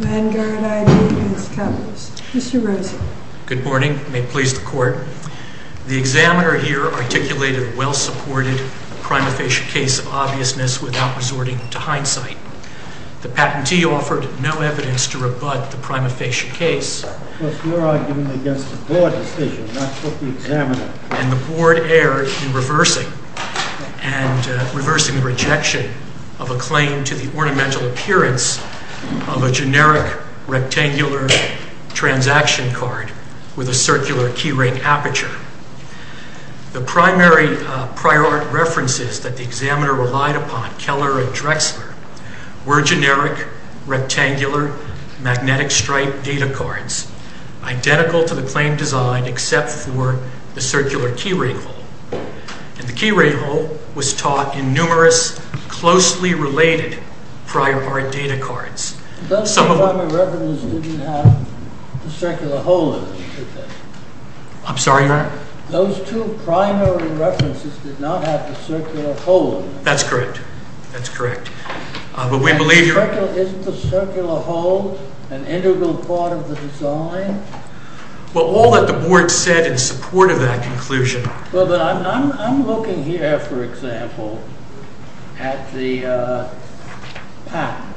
VANGUARD ID v. KAPPOS. Mr. Rosen. Good morning. May it please the court. The examiner here articulated a well-supported prima facie case of obviousness without resorting to hindsight. The patentee offered no evidence to rebut the prima facie case. Because you're arguing against the board decision, not just the examiner. And the board erred in reversing the rejection of a claim to the ornamental appearance of a generic rectangular transaction card with a circular key ring aperture. The primary prior art references that the examiner relied upon, Keller and Drexler, were generic rectangular magnetic stripe data cards, identical to the claim design except for the circular key ring hole. And the key ring hole was taught in numerous closely related prior art data cards. Those two primary references didn't have the circular hole in them, did they? I'm sorry, Your Honor? Those two primary references did not have the circular hole in them. That's correct. That's correct. But we believe you're right. Isn't the circular hole an integral part of the design? Well, all that the board said in support of that conclusion. Well, but I'm looking here, for example, at the patent.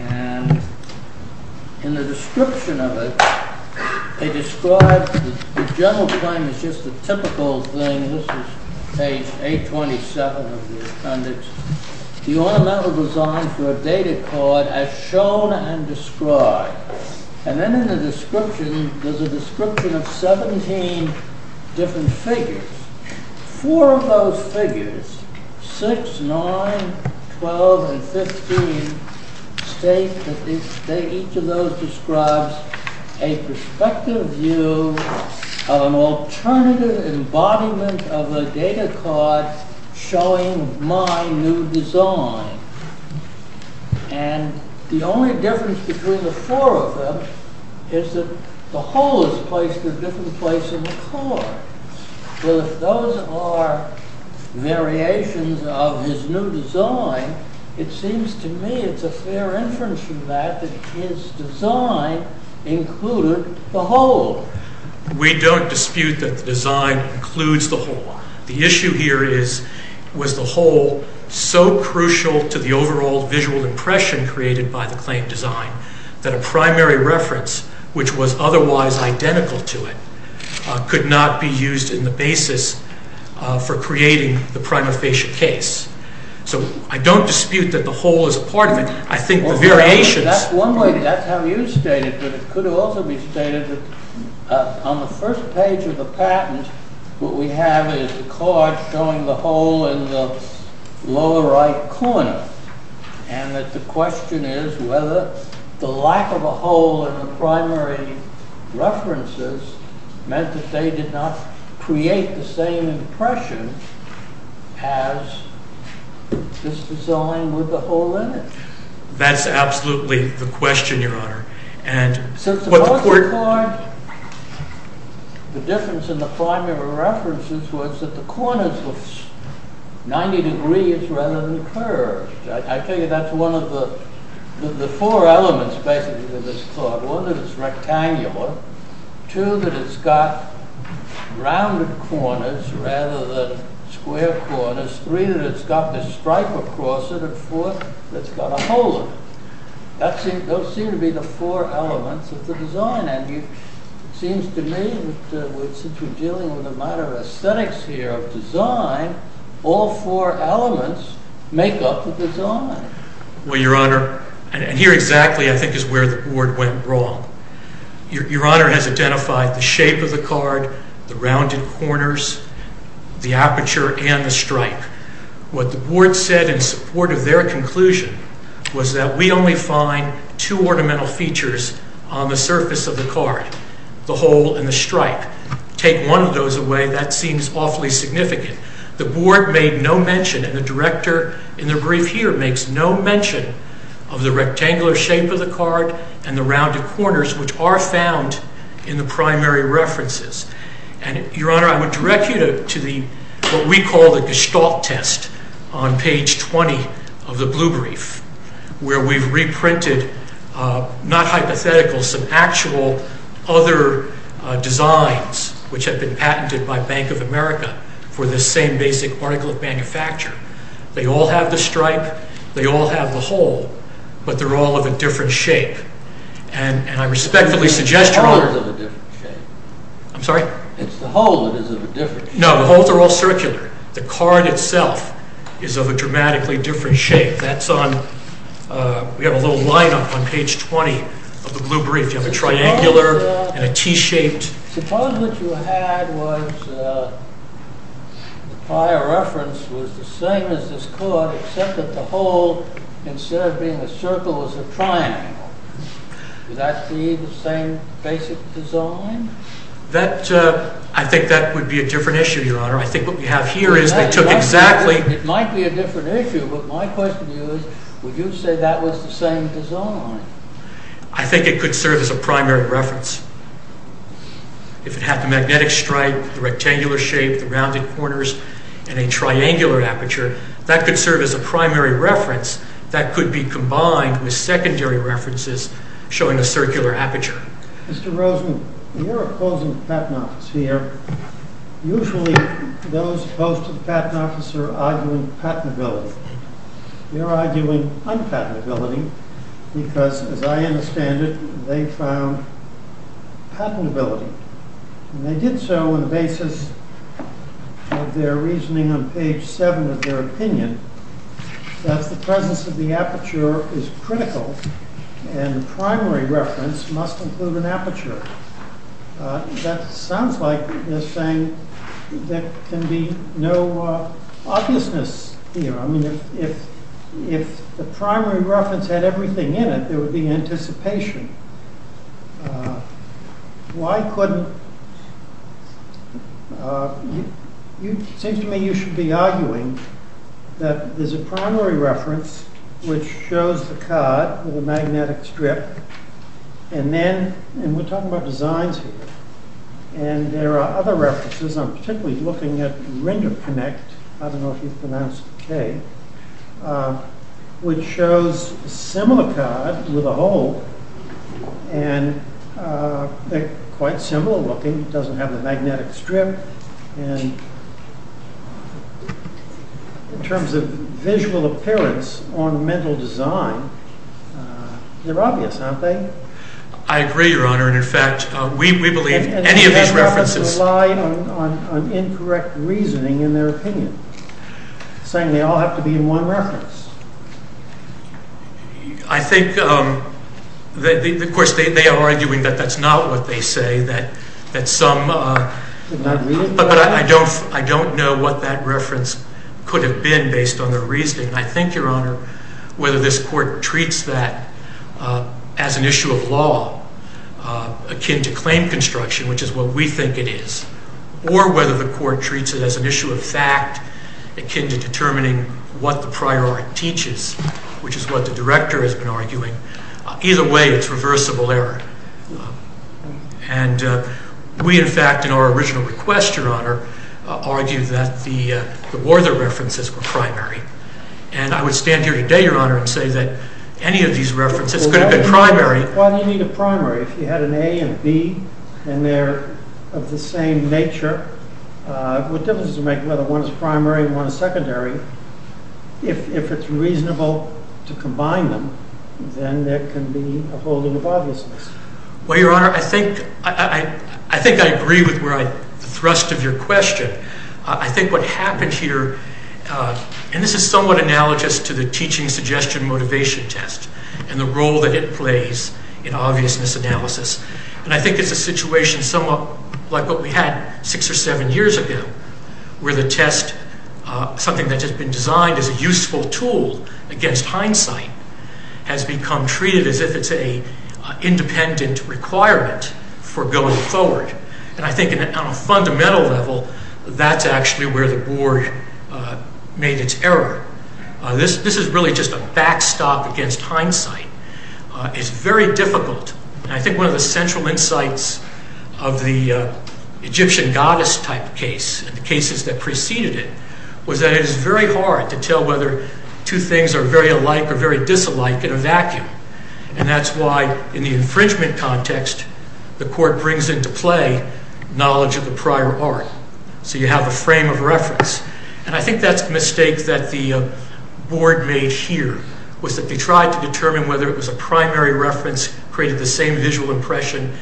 And in the description of it, they describe the general claim is just a typical thing. This is page 827 of the appendix. The ornamental design for a data card as shown and described. And then in the description, there's a description of 17 different figures. Four of those figures, 6, 9, 12, and 15, state that each of those describes a perspective view of an alternative embodiment of a data card showing my new design. And the only difference between the four of them is that the hole is placed in a different place in the card. Well, if those are variations of his new design, it seems to me it's a fair inference from that that his design included the hole. We don't dispute that the design includes the hole. The issue here is, was the hole so crucial to the overall visual impression created by the claim design that a primary reference, which was otherwise identical to it, could not be used in the basis for creating the prima facie case? So I don't dispute that the hole is a part of it. I think the variations. That's one way. That's how you state it. But it could also be stated that on the first page of the patent, what we have is a card showing the hole in the lower right corner. And that the question is whether the lack of a hole in the primary references meant that they did not create the same impression as this design with the hole in it. That's absolutely the question, Your Honor. So suppose the card, the difference in the primary references was that the corners were 90 degrees rather than curved. I tell you, that's one of the four elements, basically, of this card. One, that it's rectangular. Two, that it's got rounded corners rather than square corners. Three, that it's got this stripe across it. And four, that it's got a hole in it. Those seem to be the four elements of the design. dealing with a matter of aesthetics here, of design, all four elements make up the design. Well, Your Honor, and here exactly, I think, is where the board went wrong. Your Honor has identified the shape of the card, the rounded corners, the aperture, and the stripe. What the board said in support of their conclusion was that we only find two ornamental features on the surface of the card, the hole and the stripe. Take one of those away, that seems awfully significant. The board made no mention, and the director in the brief here makes no mention of the rectangular shape of the card and the rounded corners, which are found in the primary references. And Your Honor, I would direct you to what we call the Gestalt test on page 20 of the blue brief, where we've reprinted, not hypothetical, some actual other designs which have been patented by Bank of America for this same basic article of manufacture. They all have the stripe. They all have the hole. But they're all of a different shape. And I respectfully suggest, Your Honor. The hole is of a different shape. I'm sorry? It's the hole that is of a different shape. No, the holes are all circular. The card itself is of a dramatically different shape. That's on, we have a little lineup on page 20 of the blue brief. You have a triangular and a T-shaped. Suppose what you had was the prior reference was the same as this card, except that the hole, instead of being a circle, is a triangle. Would that be the same basic design? I think that would be a different issue, Your Honor. I think what we have here is they took exactly. It might be a different issue. But my question to you is, would you say that was the same design? I think it could serve as a primary reference. If it had the magnetic stripe, the rectangular shape, the rounded corners, and a triangular aperture, that could serve as a primary reference that could be combined with secondary references showing a circular aperture. Mr. Rosen, you're opposing the patent office here. Usually, those opposed to the patent office are arguing patentability. You're arguing unpatentability, because as I understand it, they found patentability. And they did so on the basis of their reasoning on page 7 of their opinion, that the presence of the aperture is critical, and the primary reference must include an aperture. That sounds like they're saying there can be no obviousness here. If the primary reference had everything in it, there would be anticipation. Why couldn't? Seems to me you should be arguing that there's a primary reference which shows the cut with a magnetic strip. And we're talking about designs here. And there are other references. I'm particularly looking at the Ring of Connect. I don't know if you've pronounced it OK. Which shows a similar cut with a hole. And they're quite similar looking. It doesn't have the magnetic strip. And in terms of visual appearance on mental design, they're obvious, aren't they? I agree, Your Honor. And in fact, we believe any of these references rely on incorrect reasoning in their opinion, saying they all have to be in one reference. I think, of course, they are arguing that that's not what they say. That some are. Did not read it correctly? I don't know what that reference could have been based on their reasoning. I think, Your Honor, whether this court treats that as an issue of law akin to claim construction, which is what we think it is, or whether the court treats it as an issue of fact akin to determining what the prior art teaches, which is what the director has been arguing, either way it's reversible error. And we, in fact, in our original request, Your Honor, argue that the Werther references were primary. And I would stand here today, Your Honor, and say that any of these references could have been primary. Why do you need a primary if you had an A and a B and they're of the same nature? What difference does it make whether one is primary and one is secondary? If it's reasonable to combine them, then there can be a holding of obviousness. Well, Your Honor, I think I agree with the thrust of your question. I think what happened here, and this is somewhat analogous to the teaching suggestion motivation test and the role that it plays in obviousness analysis. And I think it's a situation somewhat like what we had six or seven years ago, where the test, something that has been designed as a useful tool against hindsight, has become treated as if it's an independent requirement for going forward. And I think on a fundamental level, that's actually where the board made its error. This is really just a backstop against hindsight. It's very difficult. And I think one of the central insights of the Egyptian goddess-type case and the cases that preceded it was that it is very hard to tell whether two things are very alike or very disalike in a vacuum. And that's why, in the infringement context, the court brings into play knowledge of the prior art. So you have a frame of reference. And I think that's a mistake that the board made here, was that they tried to determine whether it was a primary reference created the same visual impression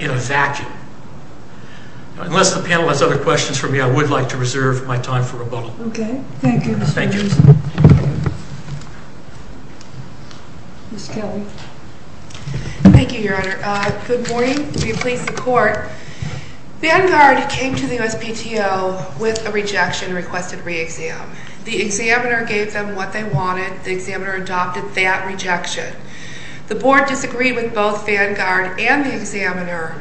in a vacuum. Unless the panel has other questions for me, I would like to reserve my time for rebuttal. OK. Thank you, Mr. Wilson. Thank you. Ms. Kelly. Thank you, Your Honor. Good morning. We please the court. Vanguard came to the USPTO with a rejection and requested re-exam. The examiner gave them what they wanted. The examiner adopted that rejection. The board disagreed with both Vanguard and the examiner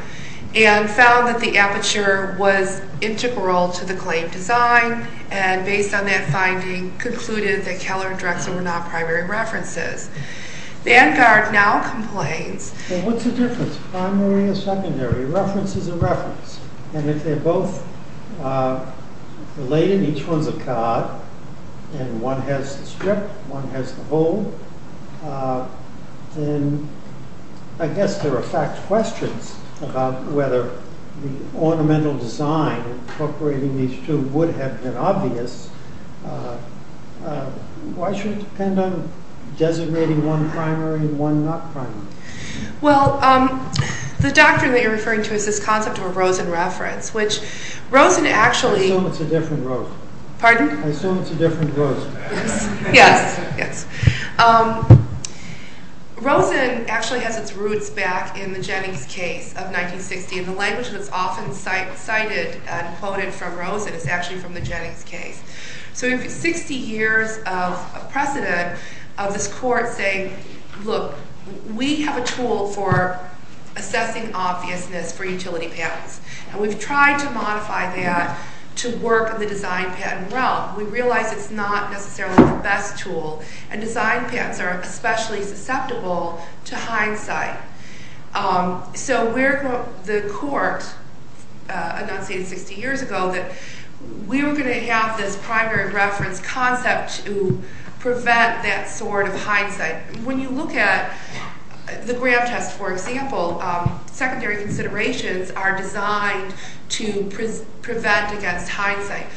and found that the aperture was integral to the claim design. And based on that finding, concluded that Keller and Drexel were not primary references. Vanguard now complains. Well, what's the difference? Primary or secondary? Reference is a reference. And if they're both related, each one's a card, and one has the strip, one has the hole, then I guess there are fact questions about whether the ornamental design incorporating these two would have been obvious. Why should it depend on designating one primary and one not primary? Well, the doctrine that you're referring to is this concept of a Rosen reference, which Rosen actually. I assume it's a different Rosen. Pardon? I assume it's a different Rosen. Yes, yes. Rosen actually has its roots back in the Jennings case of 1960. And the language that's often cited and quoted from Rosen is actually from the Jennings case. So if it's 60 years of precedent of this court saying, look, we have a tool for assessing obviousness for utility patents, and we've tried to modify that to work in the design patent realm, we realize it's not necessarily the best tool. And design patents are especially susceptible to hindsight. So the court announced 60 years ago that we were going to have this primary reference concept to prevent that sort of hindsight. When you look at the Graham test, for example, secondary considerations are designed to prevent against hindsight.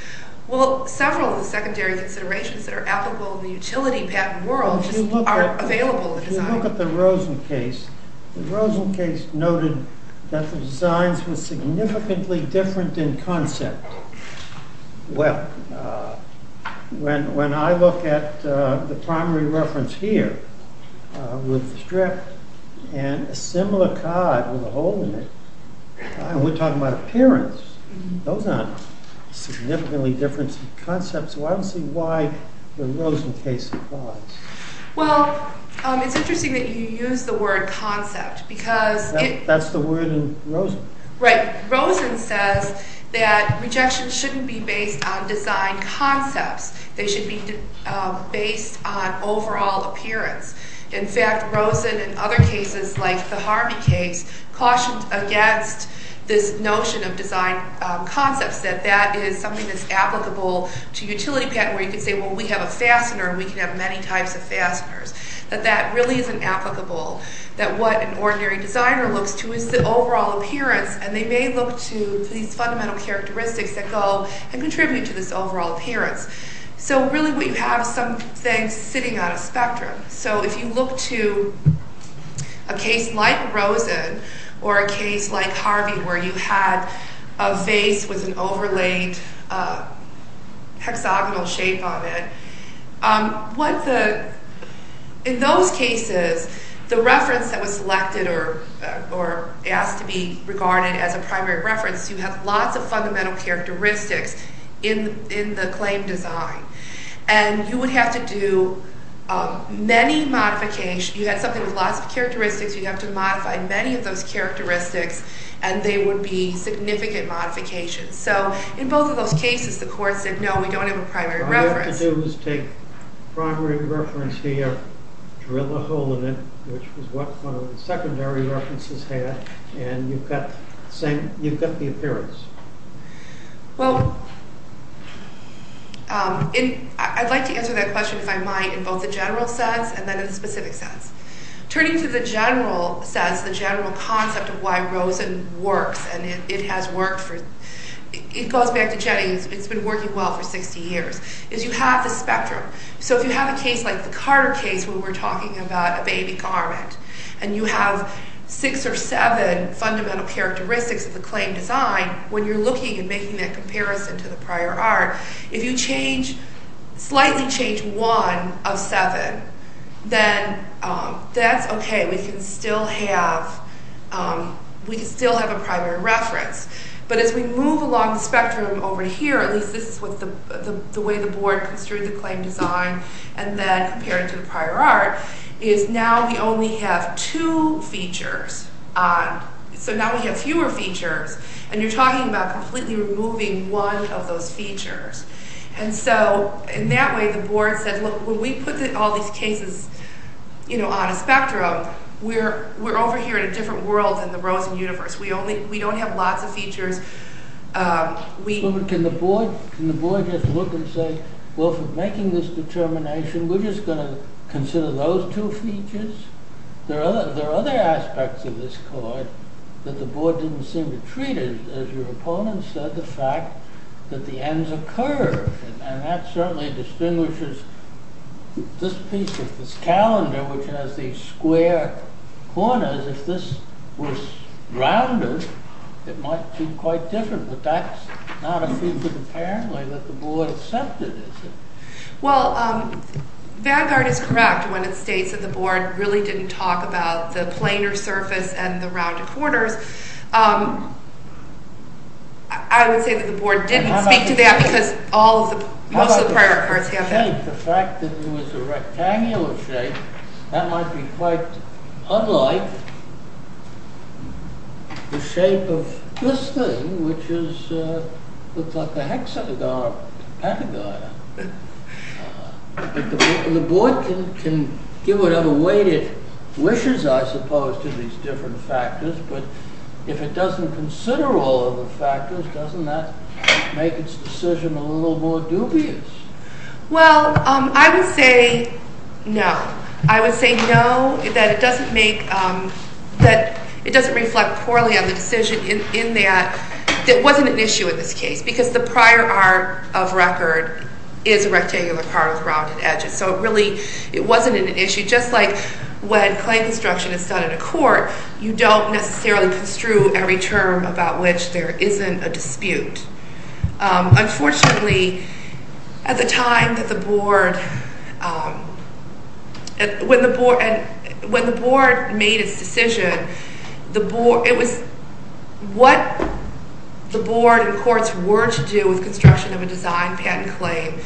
Well, several of the secondary considerations that are applicable in the utility patent world just aren't available in design. If you look at the Rosen case, the Rosen case noted that the designs were significantly different in concept. Well, when I look at the primary reference here with the strip and a similar card with a hole in it, we're talking about appearance. Those aren't significantly different in concepts. So I don't see why the Rosen case applies. Well, it's interesting that you use the word concept, because it- That's the word in Rosen. Right. Rosen says that rejection shouldn't be based on design concepts. They should be based on overall appearance. In fact, Rosen, in other cases, like the Harvey case, cautioned against this notion of design concepts, that that is something that's applicable to utility patent, where you could say, well, we have a fastener, and we can have many types of fasteners, that that really isn't applicable, that what an ordinary designer looks to is the overall appearance. And they may look to these fundamental characteristics that go and contribute to this overall appearance. So really, we have some things sitting on a spectrum. So if you look to a case like Rosen, or a case like Harvey, where you had a vase with an overlaid hexagonal shape on it, in those cases, the reference that was selected or asked to be regarded as a primary reference, you have lots of fundamental characteristics in the claim design. And you would have to do many modifications. You had something with lots of characteristics. You have to modify many of those characteristics, and they would be significant modifications. So in both of those cases, the court said, no, we don't have a primary reference. All you have to do is take primary reference here, drill a hole in it, which was what one of the secondary references had, and you've got the appearance. Well, I'd like to answer that question, if I might, in both the general sense and then in the specific sense. Turning to the general sense, the general concept of why Rosen works, and it has worked for, it goes back to Jenny, it's been working well for 60 years, is you have the spectrum. So if you have a case like the Carter case, where we're talking about a baby garment, and you have six or seven fundamental characteristics of the claim design, when you're looking and making that comparison to the prior art, if you change, slightly change one of seven, then that's okay, we can still have, we can still have a primary reference. But as we move along the spectrum over here, at least this is the way the board construed the claim design, and then compared to the prior art, is now we only have two features. So now we have fewer features, and you're talking about completely removing one of those features. And so, in that way, the board said, look, when we put all these cases on a spectrum, we're over here in a different world than the Rosen universe. We don't have lots of features. Can the board just look and say, well, if we're making this determination, we're just gonna consider those two features? There are other aspects of this card that the board didn't seem to treat it as your opponent said, the fact that the ends are curved, and that certainly distinguishes this piece of this calendar, which has these square corners. If this was rounded, it might seem quite different, that the board accepted, is it? Well, Vanguard is correct when it states that the board really didn't talk about the planar surface and the rounded corners. I would say that the board didn't speak to that because all of the, most of the prior cards have that. The fact that it was a rectangular shape, that might be quite unlike the shape of this thing, which is, looks like a hexagon or pentagon. But the board can give whatever weight it wishes, I suppose, to these different factors, but if it doesn't consider all of the factors, doesn't that make its decision a little more dubious? Well, I would say no. I would say no, that it doesn't make, that it doesn't reflect poorly on the decision in that, that it wasn't an issue in this case, because the prior art of record is a rectangular card with rounded edges. So it really, it wasn't an issue, just like when clay construction is done in a court, you don't necessarily construe every term about which there isn't a dispute. Unfortunately, at the time that the board, when the board made its decision, the board, it was, what the board and courts were to do with construction of a design patent claim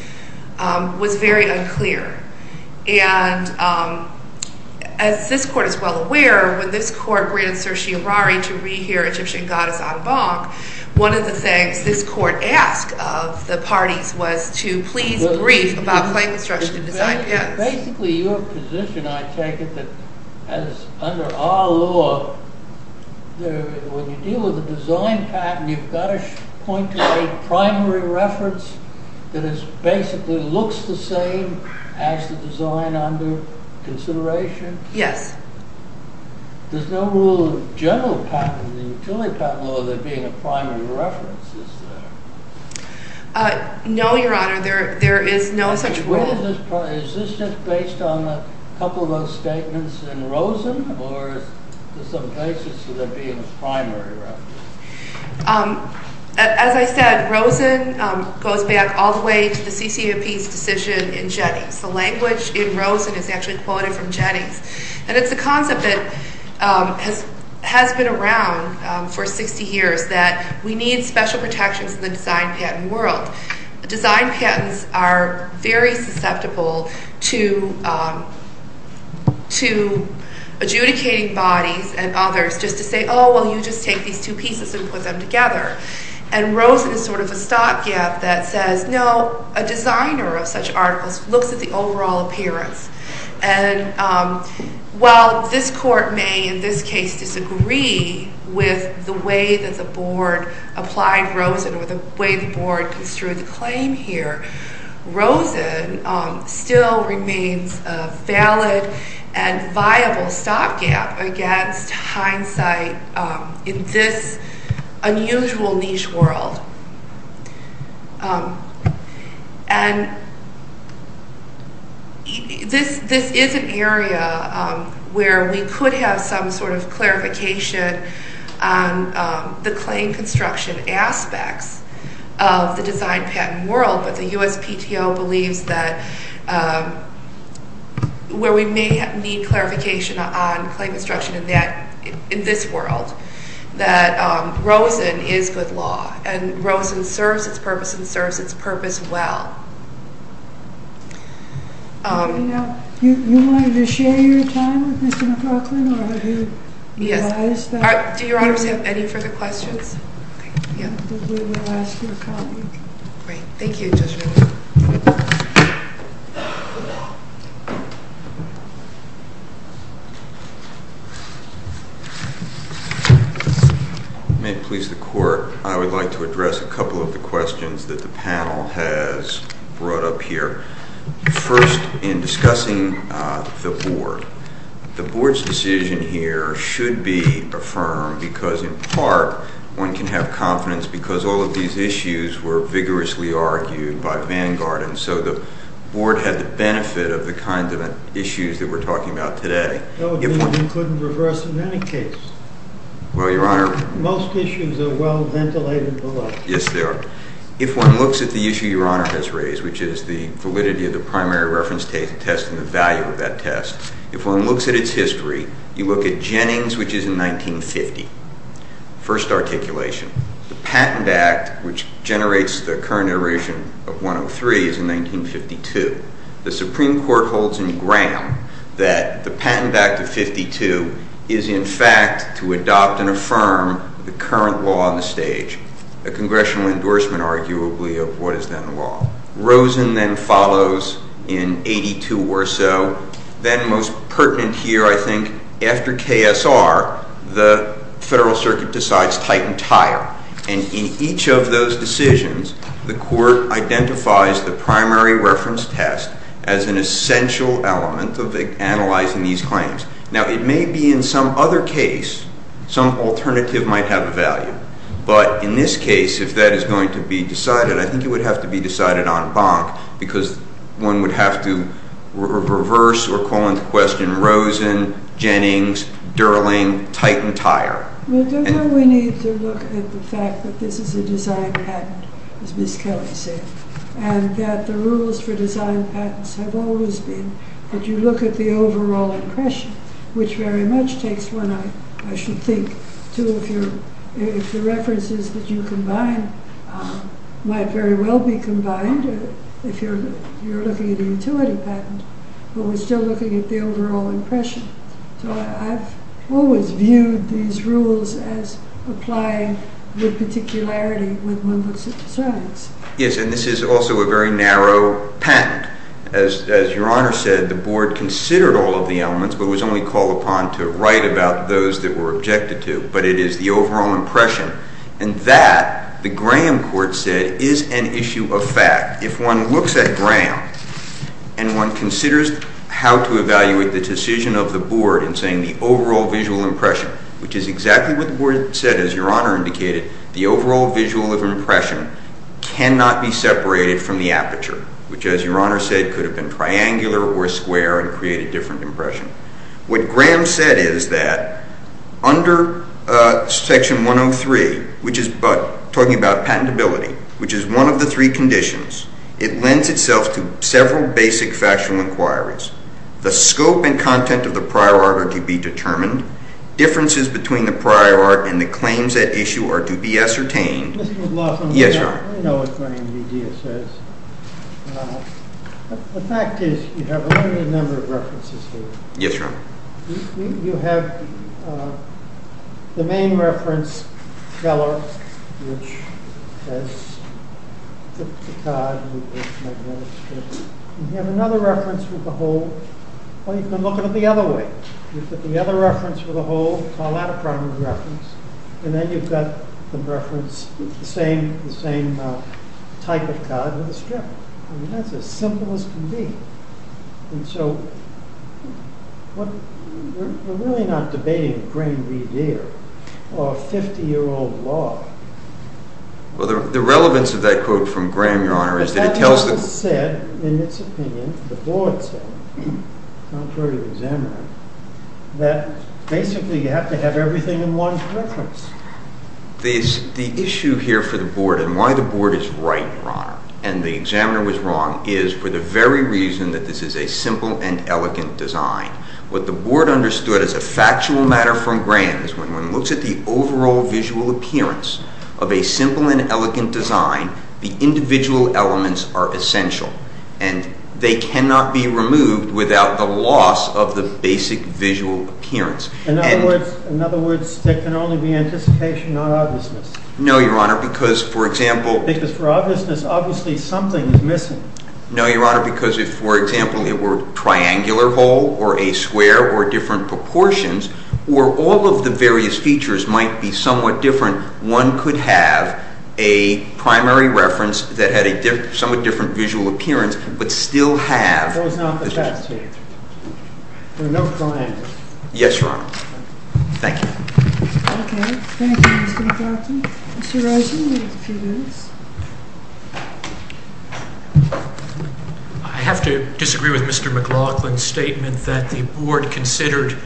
was very unclear. And as this court is well aware, when this court granted Sershi Harari to re-hear Egyptian Goddess Anbang, one of the things this court asked of the parties was to please brief about claim construction and design patents. Basically, your position, I take it, as under our law, when you deal with a design patent, you've gotta point to a primary reference that basically looks the same as the design under consideration? Yes. There's no rule of general patent in the utility patent law that being a primary reference, is there? No, your honor, there is no such rule. Is this just based on a couple of those statements in Rosen or is there some basis to there being a primary reference? As I said, Rosen goes back all the way to the CCAP's decision in Jennings. The language in Rosen is actually quoted from Jennings. And it's a concept that has been around for 60 years that we need special protections in the design patent world. Design patents are very susceptible to adjudicating bodies and others just to say, oh, well, you just take these two pieces and put them together. And Rosen is sort of a stopgap that says, no, a designer of such articles looks at the overall appearance. And while this court may, in this case, disagree with the way that the board applied Rosen or the way the board construed the claim here, Rosen still remains a valid and viable stopgap against hindsight in this unusual niche world. And this is an area where we could have some sort of clarification on the claim construction aspects of the design patent world. But the USPTO believes that where we may need clarification on claim construction in this world, that Rosen is good law. And Rosen serves its purpose and serves its purpose well. You wanted to share your time with Mr. McLaughlin or who? Yes. Do your honors have any further questions? We will ask your comment. Great, thank you, Judge Rosen. May it please the court, I would like to address a couple of the questions that the panel has brought up here. First, in discussing the board. The board's decision here should be affirmed because in part, one can have confidence because all of these issues were vigorously argued by Vanguard and so the board had the benefit of the kinds of issues that we're talking about today. That would mean we couldn't reverse in any case. Well, your honor. Most issues are well ventilated below. Yes, they are. If one looks at the issue your honor has raised, which is the validity of the primary reference test and the value of that test, if one looks at its history, you look at Jennings, which is in 1950. First articulation, the Patent Act, which generates the current iteration of 103 is in 1952. The Supreme Court holds in Graham that the Patent Act of 52 is in fact to adopt and affirm the current law on the stage, a congressional endorsement arguably of what is then law. Rosen then follows in 82 or so, then most pertinent here I think after KSR, the Federal Circuit decides Titan Tire and in each of those decisions, the court identifies the primary reference test as an essential element of analyzing these claims. Now, it may be in some other case, some alternative might have a value, but in this case, if that is going to be decided, I think it would have to be decided on bonk because one would have to reverse or call into question Rosen, Jennings, Durling, Titan Tire. Well, don't we need to look at the fact that this is a design patent, as Miss Kelly said, and that the rules for design patents have always been that you look at the overall impression, which very much takes one, I should think, two of your, if the references that you combine might very well be combined if you're looking at a utility patent, but we're still looking at the overall impression. So I've always viewed these rules as applying with particularity when one looks at designs. Yes, and this is also a very narrow patent. As your honor said, the board considered all of the elements, but it was only called upon to write about those that were objected to, but it is the overall impression and that, the Graham court said, is an issue of fact. If one looks at Graham and one considers how to evaluate the decision of the board in saying the overall visual impression, which is exactly what the board said, as your honor indicated, the overall visual of impression cannot be separated from the aperture, which as your honor said, could have been triangular or square and create a different impression. What Graham said is that under section 103, which is talking about patentability, which is one of the three conditions, it lends itself to several basic factual inquiries. The scope and content of the prior art are to be determined. Differences between the prior art and the claims at issue are to be ascertained. Mr. McLaughlin. Yes, your honor. I know what Graham's idea says. The fact is you have a limited number of references here. Yes, your honor. You have the main reference color, which has the card with the magnetic strip. You have another reference with a hole. Well, you can look at it the other way. You put the other reference with a hole, call that a primary reference, and then you've got the reference, the same type of card with a strip. I mean, that's as simple as can be. And so, we're really not debating Graham v. Deere or a 50-year-old law. Well, the relevance of that quote from Graham, your honor, is that it tells the- But that doesn't say, in its opinion, the board said, contrary to the examiner, that basically you have to have everything in one reference. The issue here for the board and why the board is right, your honor, and the examiner was wrong, is for the very reason that this is a simple and elegant design. What the board understood as a factual matter from Graham is when one looks at the overall visual appearance of a simple and elegant design, the individual elements are essential, and they cannot be removed without the loss of the basic visual appearance. In other words, there can only be anticipation, not obviousness. No, your honor, because, for example- No, your honor, because if, for example, it were a triangular hole or a square or different proportions, where all of the various features might be somewhat different, one could have a primary reference that had a somewhat different visual appearance, but still have- That was not the best answer. There are no triangles. Yes, your honor. Thank you. Okay, thank you, Mr. McClatchy. Mr. Rosen, you have a few minutes. I have to disagree with Mr. McLaughlin's statement that the board considered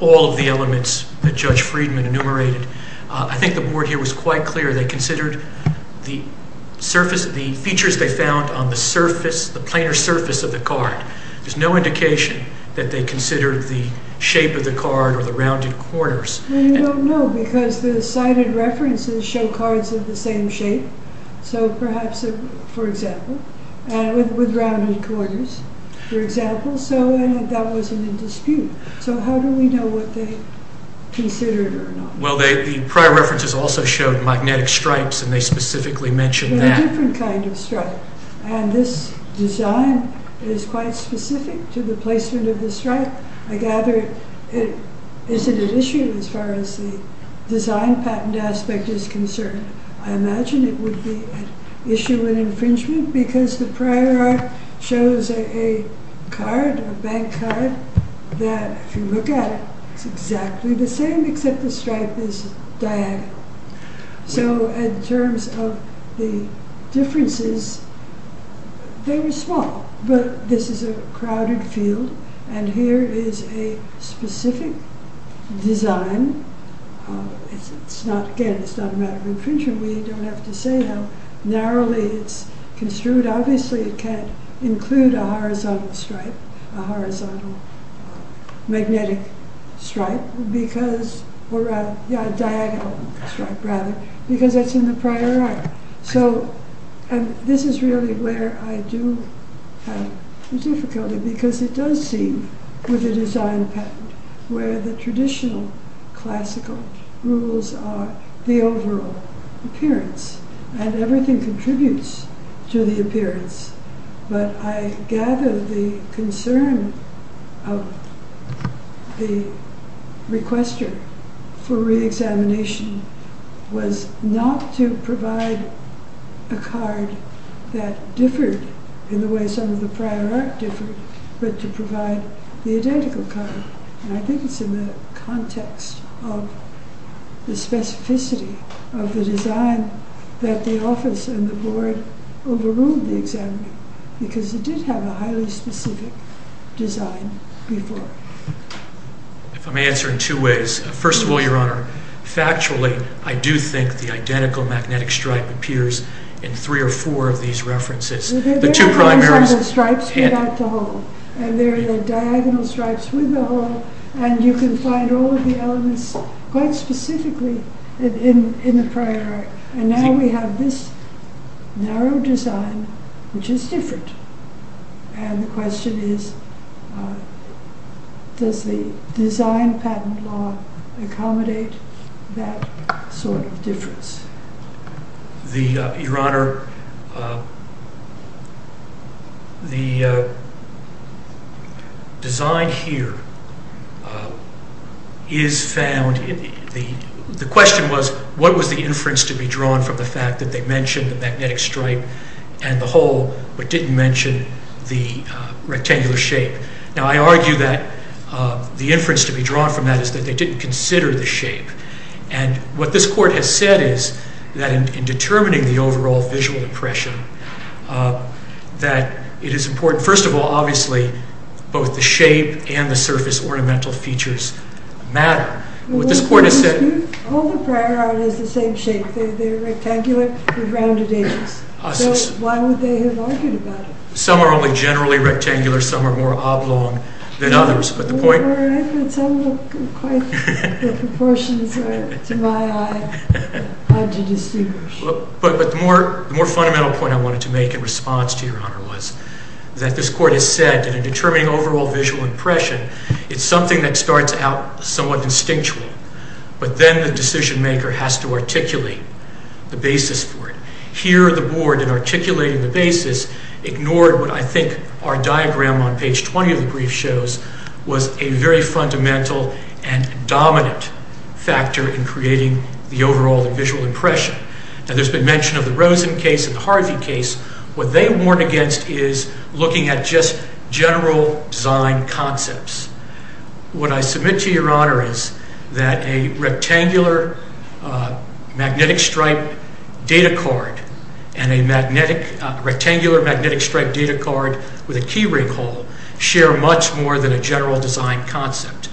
all of the elements that Judge Friedman enumerated. I think the board here was quite clear. They considered the features they found on the surface, the planar surface of the card. There's no indication that they considered the shape of the card or the rounded corners. Well, you don't know, because the cited references show cards of the same shape. So perhaps, for example, and with rounded corners, for example, so that wasn't in dispute. So how do we know what they considered or not? Well, the prior references also showed magnetic stripes, and they specifically mentioned that. They're a different kind of stripe, and this design is quite specific to the placement of the stripe. I gather it isn't an issue as far as the design patent aspect is concerned. I imagine it would be an issue in infringement because the prior art shows a card, a bank card, that if you look at it, it's exactly the same, except the stripe is diagonal. So in terms of the differences, they were small, but this is a crowded field, and here is a specific design. And it's not, again, it's not a matter of infringement. We don't have to say how narrowly it's construed. Obviously, it can't include a horizontal stripe, a horizontal magnetic stripe because, or rather, yeah, a diagonal stripe, rather, because that's in the prior art. So, and this is really where I do have difficulty because it does seem, with the design patent, where the traditional classical rules are the overall appearance, and everything contributes to the appearance, but I gather the concern of the requester for reexamination was not to provide a card that differed in the way some of the prior art differed, but to provide the identical card. And I think it's in the context of the specificity of the design that the office and the board overruled the examiner, because it did have a highly specific design before. If I may answer in two ways. First of all, Your Honor, factually, I do think the identical magnetic stripe appears in three or four of these references. The two primaries. The horizontal stripes without the hole, and there are the diagonal stripes with the hole, and you can find all of the elements quite specifically in the prior art. And now we have this narrow design, which is different. And the question is, does the design patent law accommodate that sort of difference? Your Honor, the design here is found, the question was, what was the inference to be drawn from the fact that they mentioned the magnetic stripe and the hole, but didn't mention the rectangular shape? Now, I argue that the inference to be drawn from that is that they didn't consider the shape. And what this court has said is that in determining the overall visual impression, that it is important, first of all, obviously, both the shape and the surface ornamental features matter. What this court has said- All the prior art is the same shape. They're rectangular, they're rounded edges. So why would they have argued about it? Some are only generally rectangular, some are more oblong than others, but the point- Your Honor, I think some of the proportions are, to my eye, hard to distinguish. But the more fundamental point I wanted to make in response to you, Your Honor, was that this court has said that in determining overall visual impression, it's something that starts out somewhat instinctual, but then the decision maker has to articulate the basis for it. Here, the board, in articulating the basis, ignored what I think our diagram on page 20 of the brief shows was a very fundamental and dominant factor in creating the overall visual impression. Now, there's been mention of the Rosen case and the Harvey case. What they warn against is looking at just general design concepts. What I submit to Your Honor is that a rectangular magnetic stripe data card and a rectangular magnetic stripe data card with a key ring hole share much more than a general design concept.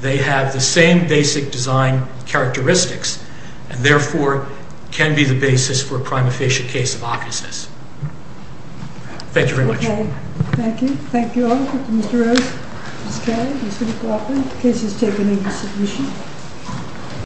They have the same basic design characteristics and, therefore, can be the basis for a prima facie case of offices. Thank you very much. Okay, thank you. Thank you all. Mr. Rose, Ms. Kelly, Mr. McLaughlin, the case is taken into submission.